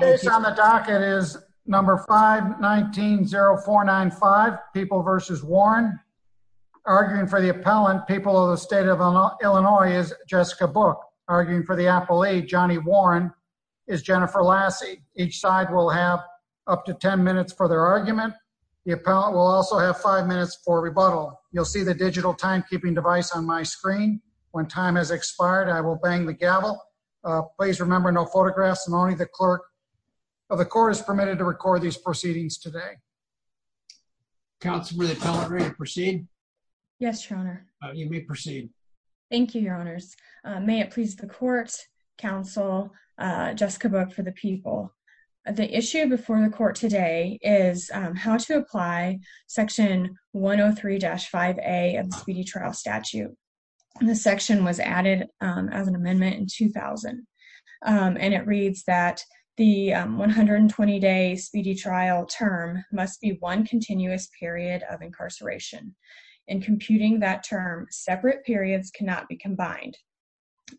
on the docket is number 519-0495, People v. Warren. Arguing for the appellant, People of the State of Illinois, is Jessica Book. Arguing for the appellee, Johnny Warren, is Jennifer Lassie. Each side will have up to 10 minutes for their argument. The appellant will also have 5 minutes for rebuttal. You'll see the digital timekeeping device on my screen. When time has expired, I will bang the gavel. Please remember, no photographs and only the clerk of the court is permitted to record these proceedings today. Counsel, will the appellant ready to proceed? Yes, Your Honor. You may proceed. Thank you, Your Honors. May it please the court, counsel, Jessica Book for the People. The issue before the court today is how to as an amendment in 2000. And it reads that the 120-day speedy trial term must be one continuous period of incarceration. In computing that term, separate periods cannot be combined.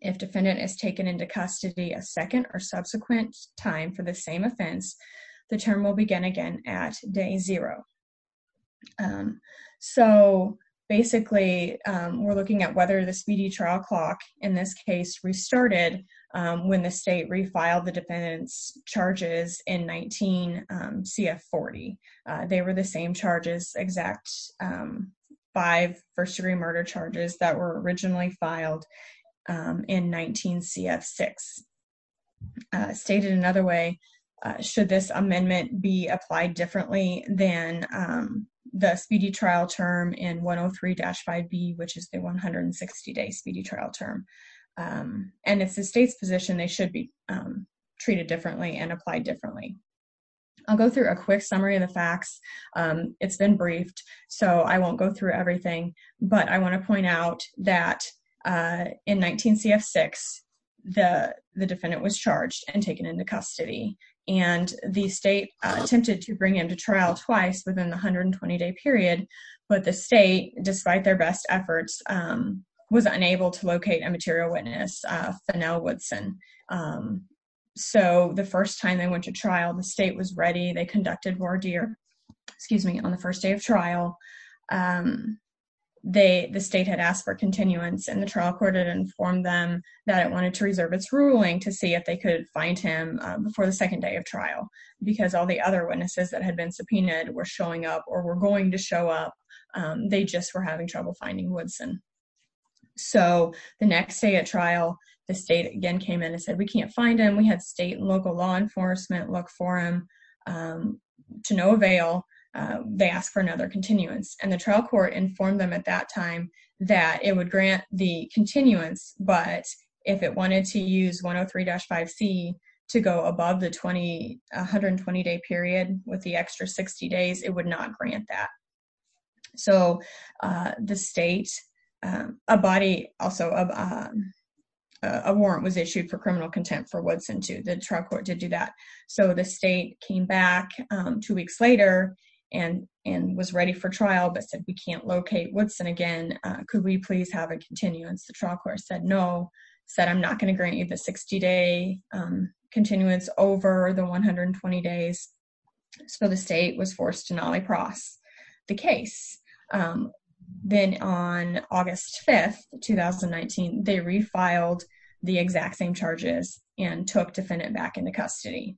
If defendant is taken into custody a second or subsequent time for the same offense, the term will begin again at day zero. So basically, we're looking at whether the in this case restarted when the state refiled the defendant's charges in 19 CF40. They were the same charges, exact five first-degree murder charges that were originally filed in 19 CF6. Stated another way, should this amendment be applied differently than the speedy trial term in 103-5B, which is the 160-day speedy trial term. And if the state's position, they should be treated differently and applied differently. I'll go through a quick summary of the facts. It's been briefed, so I won't go through everything. But I want to point out that in 19 CF6, the defendant was charged and taken into custody. And the state attempted to bring him to trial twice within the 120-day period. But the state, despite their best efforts, was unable to locate a material witness, Fennell Woodson. So the first time they went to trial, the state was ready. They conducted voir dire, excuse me, on the first day of trial. The state had asked for continuance and the trial court had informed them that it wanted to reserve its ruling to see if they could find him before the second day of trial. Because all the other witnesses that had been subpoenaed were showing up or were going to show up. They just were having trouble finding Woodson. So the next day at trial, the state again came in and said we can't find him. We had state and local law enforcement look for him. To no avail, they asked for another continuance. And the trial court informed them at that time that it would grant the continuance, but if it wanted to use 103-5C to go above the 120-day period with the extra 60 days, it would not grant that. So the state, a body, also a warrant was issued for criminal contempt for Woodson, too. The trial court did do that. So the state came back two weeks later and was ready for trial but said we can't locate Woodson again. Could we please have a continuance? The no said I'm not going to grant you the 60-day continuance over the 120 days. So the state was forced to nolly-cross the case. Then on August 5th, 2019, they refiled the exact same charges and took defendant back into custody.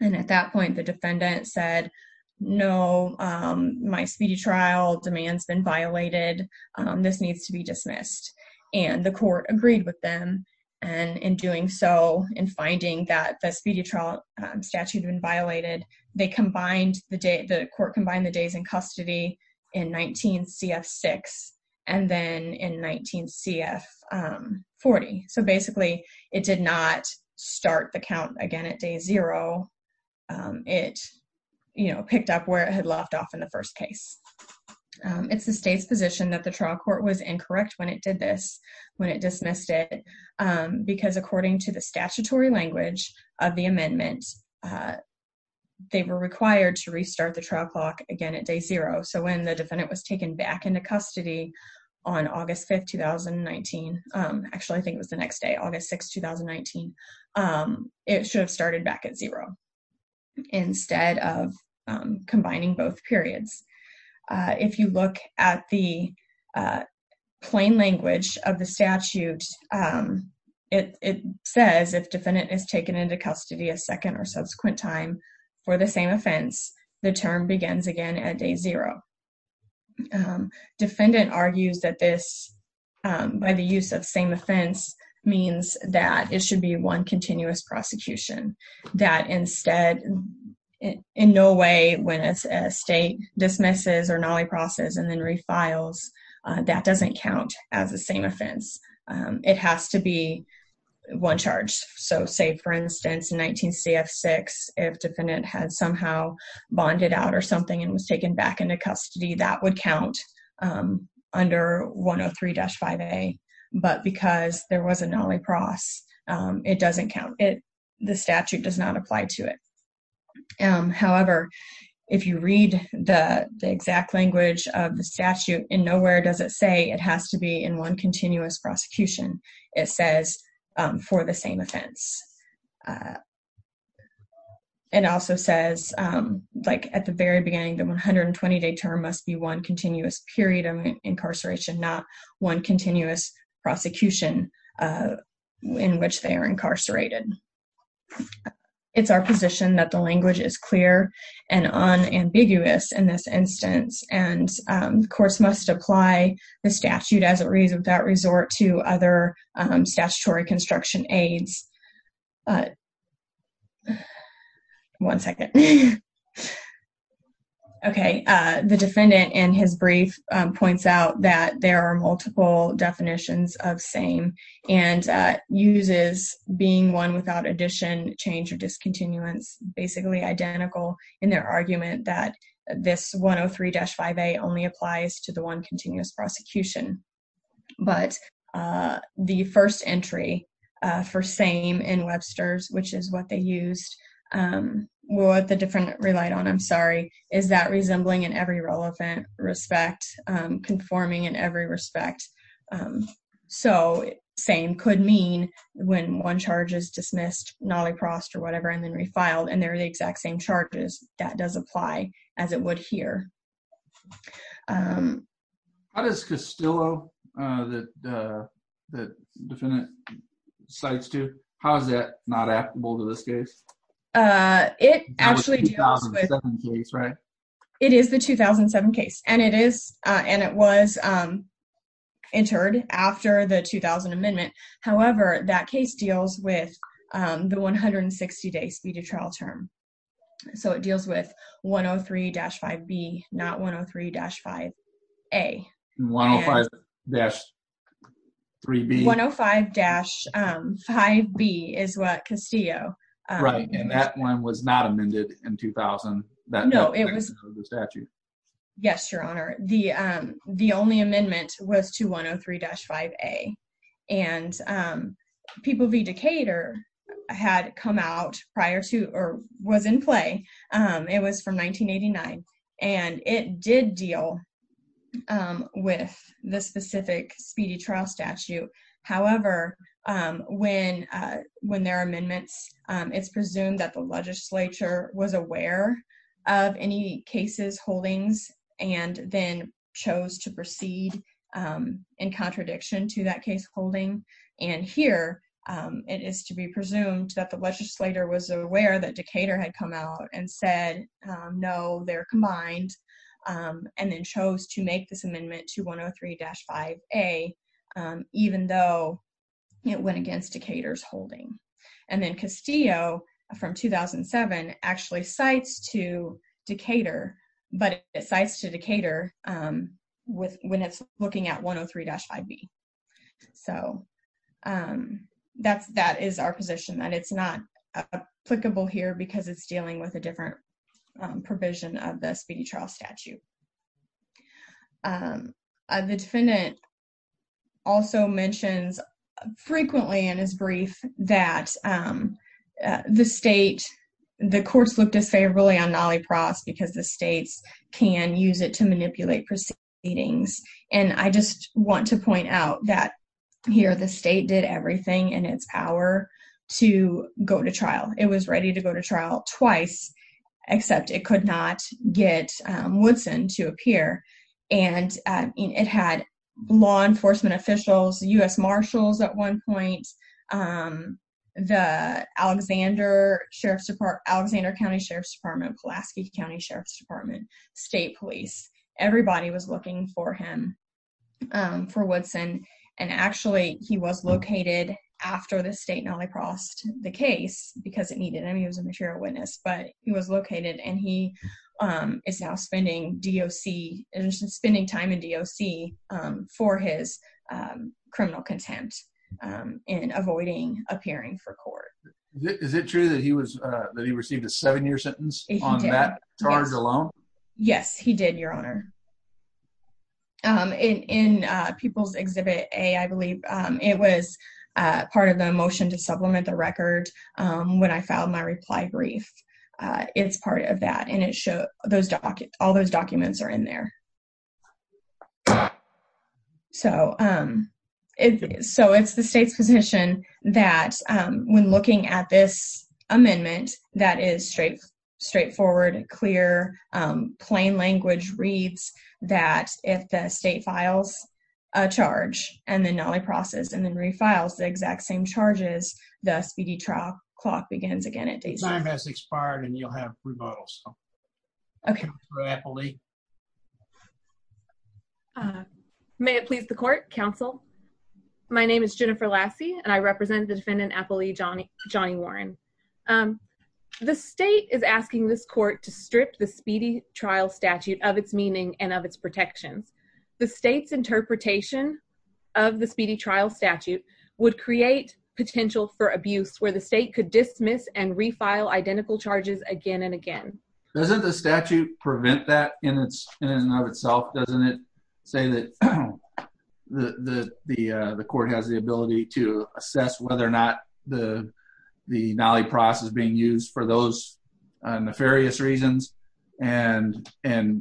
And at that point, the defendant said no, my speedy trial demand has been violated. This needs to be dismissed. And the court agreed with them. In doing so, in finding that the speedy trial statute had been violated, the court combined the days in custody in 19 CF6 and then in 19 CF40. So basically, it did not start the count again at day zero. It picked up where it had left off in the first case. It's the state's position that the trial court was incorrect when it did this, when it dismissed it, because according to the statutory language of the amendment, they were required to restart the trial clock again at day zero. So when the defendant was taken back into custody on August 5th, 2019, actually, I think it was the next day, August 6th, 2019, it should have started back at zero instead of combining both periods. If you look at the plain language of the statute, it says if defendant is taken into custody a second or subsequent time for the same offense, the term begins again at day zero. Defendant argues that this, by the use of same offense, means that it should be one continuous prosecution. That instead, in no way, when a state dismisses or nolliprocesses and then refiles, that doesn't count as the same offense. It has to be one charge. So say, for instance, in 19 CF6, if defendant had somehow bonded out or something and was taken back into custody, that would count under 103-5A, but because there was a nolliprocess, it doesn't count. The statute does not apply to it. However, if you read the exact language of the statute, in nowhere does it say it has to be in one continuous prosecution. It says for the same offense. It also says, like at the very beginning of the sentence, that it has to be one continuous prosecution, not one continuous prosecution in which they are incarcerated. It's our position that the language is clear and unambiguous in this instance, and courts must apply the statute as it reads without resort to other statutory construction aids. One second. Okay. The defendant in his brief points out that there are multiple definitions of same and uses being one without addition, change, or discontinuance, basically identical in their argument that this 103-5A only applies to the one continuous prosecution, but the first entry for same in Webster's, which is what they used, what the defendant relied on, I'm sorry, is that resembling in every relevant respect, conforming in every respect, so same could mean when one charge is dismissed, nolliprocessed or whatever, and then refiled, and they're the exact same charges. That does apply as it would here. How does Castillo, that the defendant cites too, how is that not applicable to this case? It actually deals with... 2007 case, right? It is the 2007 case, and it is, and it was entered after the 2000 amendment. However, that case deals with the 160-day speedy trial term, so it deals with 103-5B, not 103-5A. 105-3B. 105-5B is what Castillo... Right, and that one was not amended in 2000. No, it was... Yes, Your Honor. The only amendment was to 103-5A, and People v. Decatur had come out prior to or was in play. It was from 1989, and it did deal with the specific speedy trial statute. However, when there are amendments, it's presumed that the legislature was aware of any cases, holdings, and then chose to proceed in contradiction to that case holding. Here, it is to be presumed that the legislator was aware that Decatur had come out and said, no, they're combined, and then chose to make this amendment to 103-5A, even though it went against Decatur's holding. Then Castillo, from 2007, actually cites to Decatur when it's looking at 103-5B. So, that is our position, that it's not applicable here because it's dealing with a different provision of the speedy trial statute. The defendant also mentions frequently in his brief that the state, the courts look disfavorably on manipulating proceedings. I just want to point out that here, the state did everything in its power to go to trial. It was ready to go to trial twice, except it could not get Woodson to appear. It had law enforcement officials, U.S. Marshals at one point, the Alexander County Sheriff's Office. Everybody was looking for him, for Woodson. Actually, he was located after the state nolliprossed the case because it needed him. He was a material witness, but he was located, and he is now spending time in DOC for his criminal contempt in avoiding appearing for court. Is it true that he received a seven-year sentence on that charge alone? Yes, he did, Your Honor. In People's Exhibit A, I believe, it was part of the motion to supplement the record when I filed my reply brief. It's part of that, and it shows all those documents are in there. So, it's the state's position that when looking at this amendment, that is straightforward, clear, plain language reads that if the state files a charge and then nolliprosses and then refiles the exact same charges, the SPD trial clock begins again at day seven. Time has expired, and you'll have rebuttals. Okay. May it please the court, counsel. My name is Jennifer Lassie, and I represent the defendant, Johnny Warren. The state is asking this court to strip the SPD trial statute of its meaning and of its protections. The state's interpretation of the SPD trial statute would create potential for abuse where the state could dismiss and refile identical charges again and again. Doesn't the statute prevent that in and of itself? Doesn't it say that the court has the ability to assess whether the nollipross is being used for those nefarious reasons and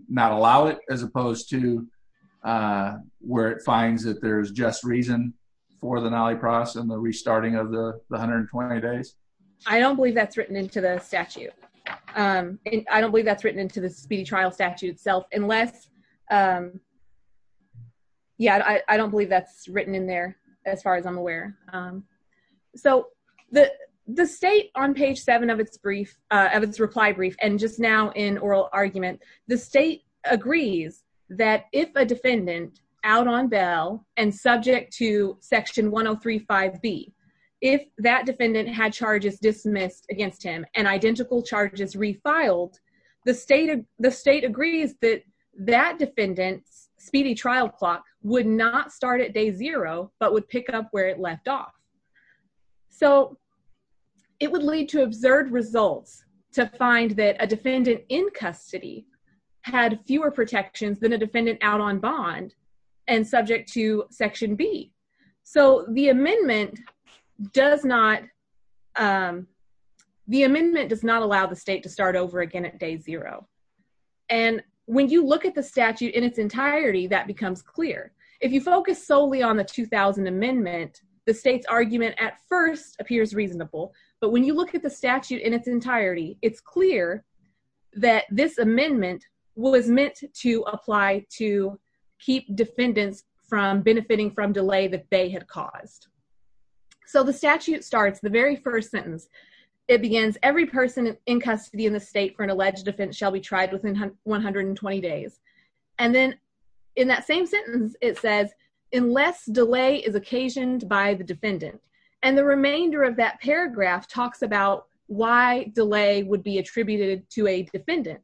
not allow it, as opposed to where it finds that there's just reason for the nollipross and the restarting of the 120 days? I don't believe that's written into the statute. I don't believe that's written into the SPD trial statute itself. I don't believe that's written in there, as far as I'm aware. So the state, on page seven of its reply brief, and just now in oral argument, the state agrees that if a defendant out on bail and subject to section 1035B, if that defendant had charges dismissed against him and identical charges refiled, the state agrees that that defendant's where it left off. So it would lead to absurd results to find that a defendant in custody had fewer protections than a defendant out on bond and subject to section B. So the amendment does not allow the state to start over again at day zero. And when you look at the statute in its entirety, that becomes clear. If you focus solely on the 2000 amendment, the state's argument at first appears reasonable. But when you look at the statute in its entirety, it's clear that this amendment was meant to apply to keep defendants from benefiting from delay that they had caused. So the statute starts, the very first sentence, it begins, every person in custody in the state for an alleged offense shall be tried within 120 days. And then in that same sentence, it says, unless delay is occasioned by the defendant. And the remainder of that paragraph talks about why delay would be attributed to a defendant.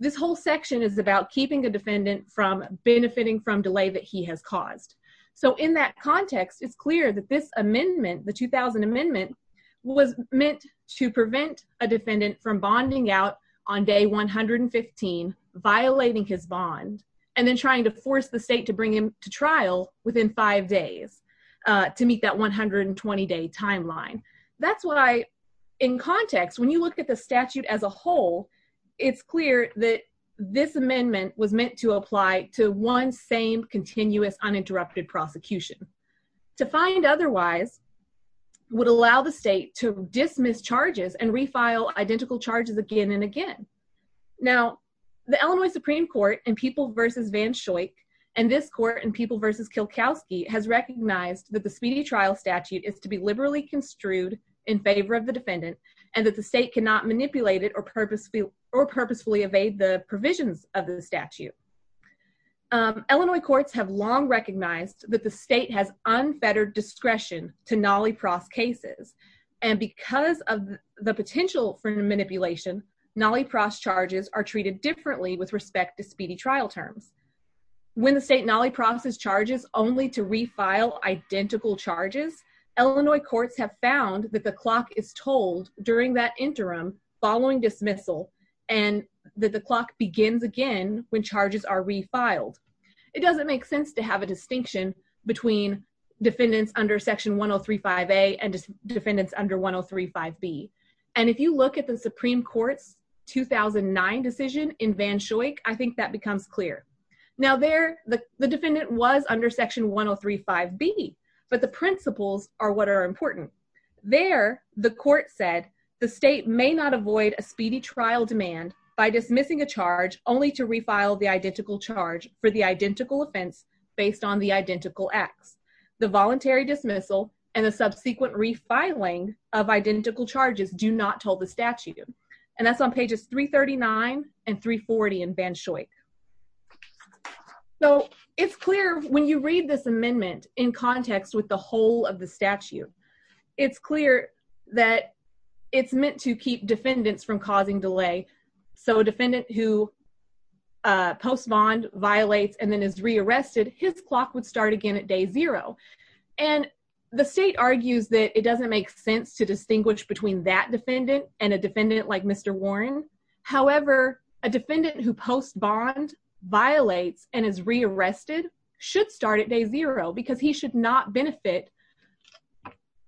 This whole section is about keeping the defendant from benefiting from delay that he has caused. So in that context, it's clear that this amendment, the 2000 amendment, was meant to prevent a defendant from bonding out on day 115, violating his bond, and then trying to force the state to bring him to trial within five days to meet that 120-day timeline. That's why, in context, when you look at the statute as a whole, it's clear that this amendment was meant to apply to one same continuous uninterrupted prosecution. To find otherwise would allow the state to dismiss charges and refile identical charges again and again. Now, the Illinois Supreme Court in People v. Van Schoik, and this court in People v. Kilkowski has recognized that the speedy trial statute is to be liberally construed in favor of the defendant, and that the state cannot manipulate it or purposefully evade the provisions of the statute. Illinois courts have long recognized that the state has unfettered discretion to nollie pros cases, and because of the potential for manipulation, nollie pros charges are treated differently with respect to speedy trial terms. When the state nollie prosses charges only to refile identical charges, Illinois courts have found that the clock is told during that interim following dismissal, and that the clock begins again when charges are refiled. It doesn't make sense to have a distinction between defendants under Section 1035A and defendants under 1035B, and if you look at the Supreme Court's 2009 decision in Van Schoik, I think that becomes clear. Now, there the defendant was under Section 1035B, but the principles are what are important. There, the court said the state may not avoid a speedy trial demand by dismissing a charge only to refile the identical charge for the identical offense based on the identical acts. The voluntary dismissal and the subsequent refiling of identical charges do not hold the statute, and that's on pages 339 and 340 in Van Schoik. So, it's clear when you read this amendment in context with the whole of the statute, it's clear that it's meant to keep defendants from causing delay. So, a defendant who post bond violates and then is rearrested, his clock would start again at day zero, and the state argues that it doesn't make sense to distinguish between that defendant and a defendant like Mr. Warren. However, a defendant who post bond violates and is rearrested should start at day zero because he should not benefit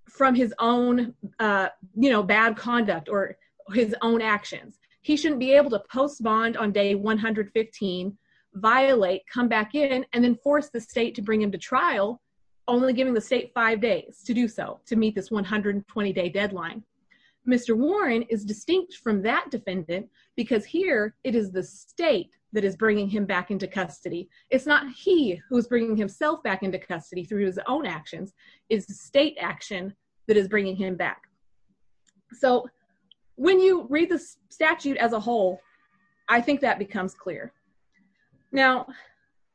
from his own, you know, bad conduct or his own actions. He shouldn't be able to post bond on day 115, violate, come back in, and then force the state to bring him to trial only giving the state five days to do so, to meet this 120-day deadline. Mr. Warren is distinct from that defendant because here it is the state that is bringing him back into custody. It's not he who's bringing himself back into custody through his own actions. It's the state action that is bringing him back. So, when you read the statute as a whole, I think that becomes clear. Now,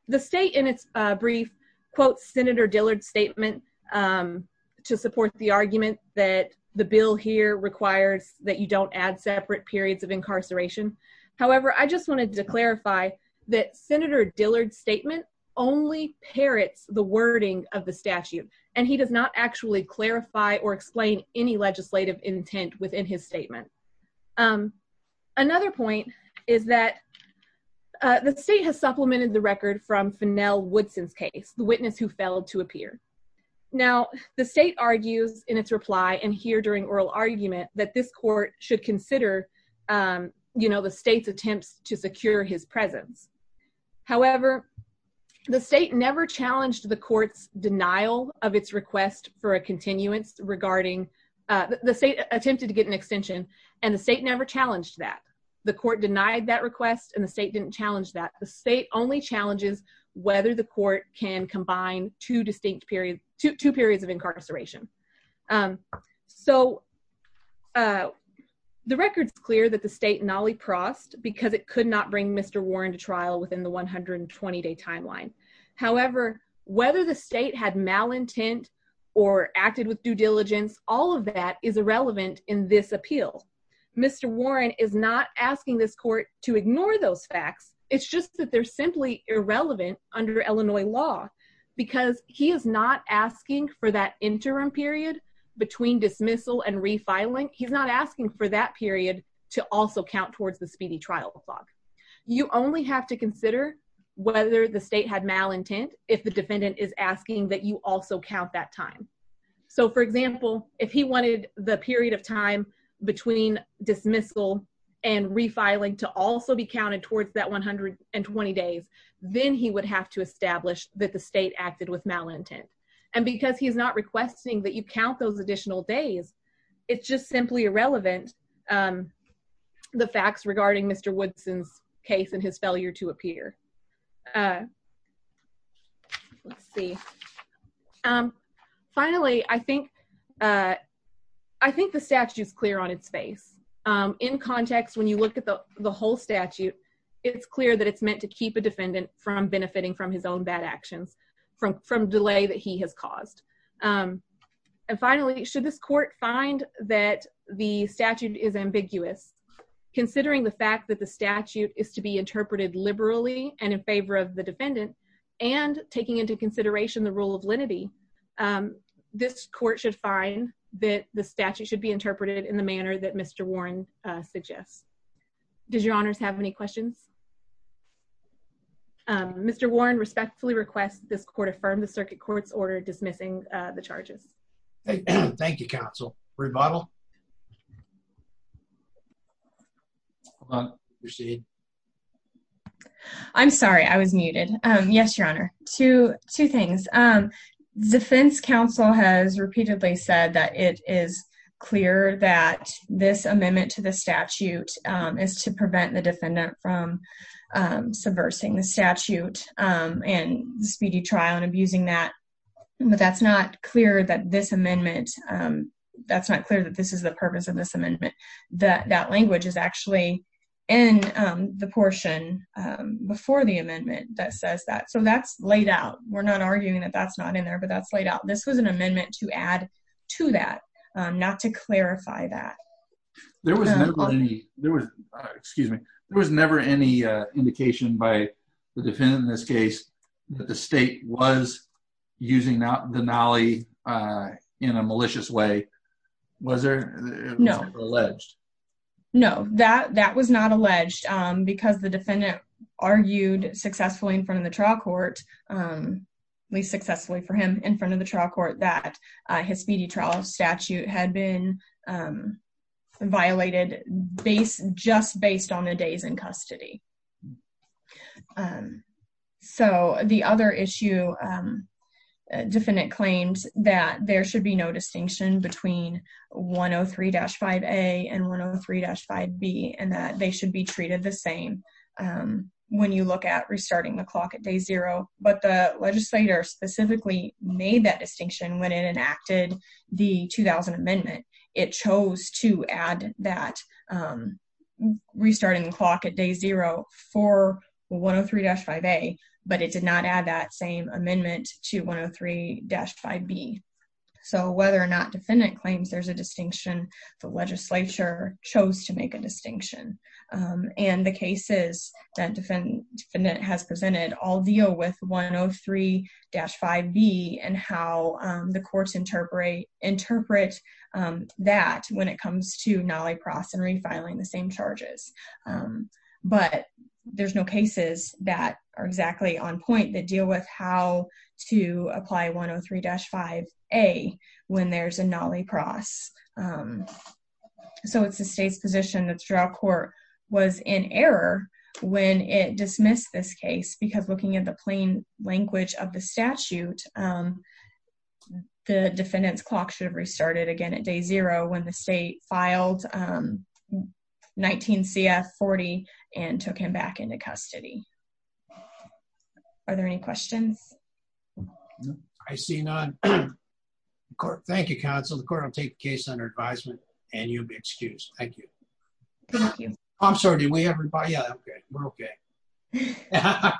the state in its brief quote Senator Dillard statement to support the argument that the bill here requires that you don't add separate periods of incarceration. However, I just wanted to clarify that Senator Dillard's statement only parrots the wording of the statute, and he does not actually clarify or explain any legislative intent within his statement. Another point is that the state has supplemented the record from Fennell Woodson's case, the witness who failed to appear. Now, the state argues in its reply, and here during oral argument, that this court should consider, you know, the state's attempts to secure his presence. However, the state never challenged the court's denial of its request for a continuance regarding, the state attempted to get an extension, and the state never challenged that. The court denied that request, and the state didn't challenge that. The state only challenges whether the court can combine two distinct periods, two periods of incarceration. So, the record's clear that the state nolly-crossed because it could not bring Mr. Warren to trial within the 120-day timeline. However, whether the state had malintent or acted with due diligence, all of that is irrelevant in this appeal. Mr. Warren is not asking this court to ignore those facts. It's just that they're simply irrelevant under Illinois law because he is not asking for that interim period between dismissal and refiling. He's not asking for that period to also count towards the speedy trial log. You only have to consider whether the state had malintent if the defendant is asking that you also count that time. So, for example, if he wanted the counted towards that 120 days, then he would have to establish that the state acted with malintent. And because he's not requesting that you count those additional days, it's just simply irrelevant the facts regarding Mr. Woodson's case and his failure to appear. Let's see. Finally, I think the statute's clear on its face. In context, when you look at the whole statute, it's clear that it's meant to keep a defendant from benefiting from his own bad actions from delay that he has caused. And finally, should this court find that the statute is ambiguous, considering the fact that the statute is to be interpreted liberally and in favor of the defendant and taking into consideration the rule of lenity, this court should find that the statute should be interpreted in the manner that Mr. Warren suggests. Does your honors have any questions? Mr. Warren respectfully requests this court affirm the circuit court's order dismissing the charges. Thank you, counsel. Rebuttal? I'm sorry, I was muted. Yes, your honor. Two things. Defense counsel has repeatedly said that it is clear that this amendment to the statute is to prevent the defendant from subversing the statute and the speedy trial and abusing that. But that's not clear that this amendment, that's not clear that this is the purpose of this amendment. That language is actually in the portion before the amendment that says that. So that's laid out. We're not arguing that that's not in there, but that's laid out. This was an amendment to add to that, not to clarify that. There was never any, there was, excuse me, there was never any indication by the defendant in this case that the state was using the nolly in a malicious way. Was there? No. Alleged. No, that that was not alleged because the defendant argued successfully in front of the trial court, at least successfully for him in front of the trial court, that his speedy trial statute had been violated just based on the days in custody. So the other issue, defendant claims that there should be no distinction between 103-5A and 103-5B and that they should be treated the same when you look at restarting the clock at day zero. But the legislator specifically made that distinction when it enacted the 2000 amendment. It chose to add that restarting the clock at day zero for 103-5A, but it did not add that same amendment to 103-5B. So whether or not defendant claims there's a distinction, the legislature chose to make a distinction. And the cases that defendant has presented all deal with 103-5B and how the courts interpret that when it comes to nolly pros and refiling the same charges. But there's no cases that are exactly on point that deal with how to apply 103-5A when there's a nolly pros. So it's the state's position that the trial court was in error when it dismissed this case because looking at the plain language of the statute, the defendant's clock should have restarted again at day zero when the state filed 19 CF-40 and took him back into custody. Are there any questions? I see none. Thank you, counsel. The court will take the case under advisement and you'll be excused. Thank you. I'm sorry, did we everybody? Yeah, we're okay.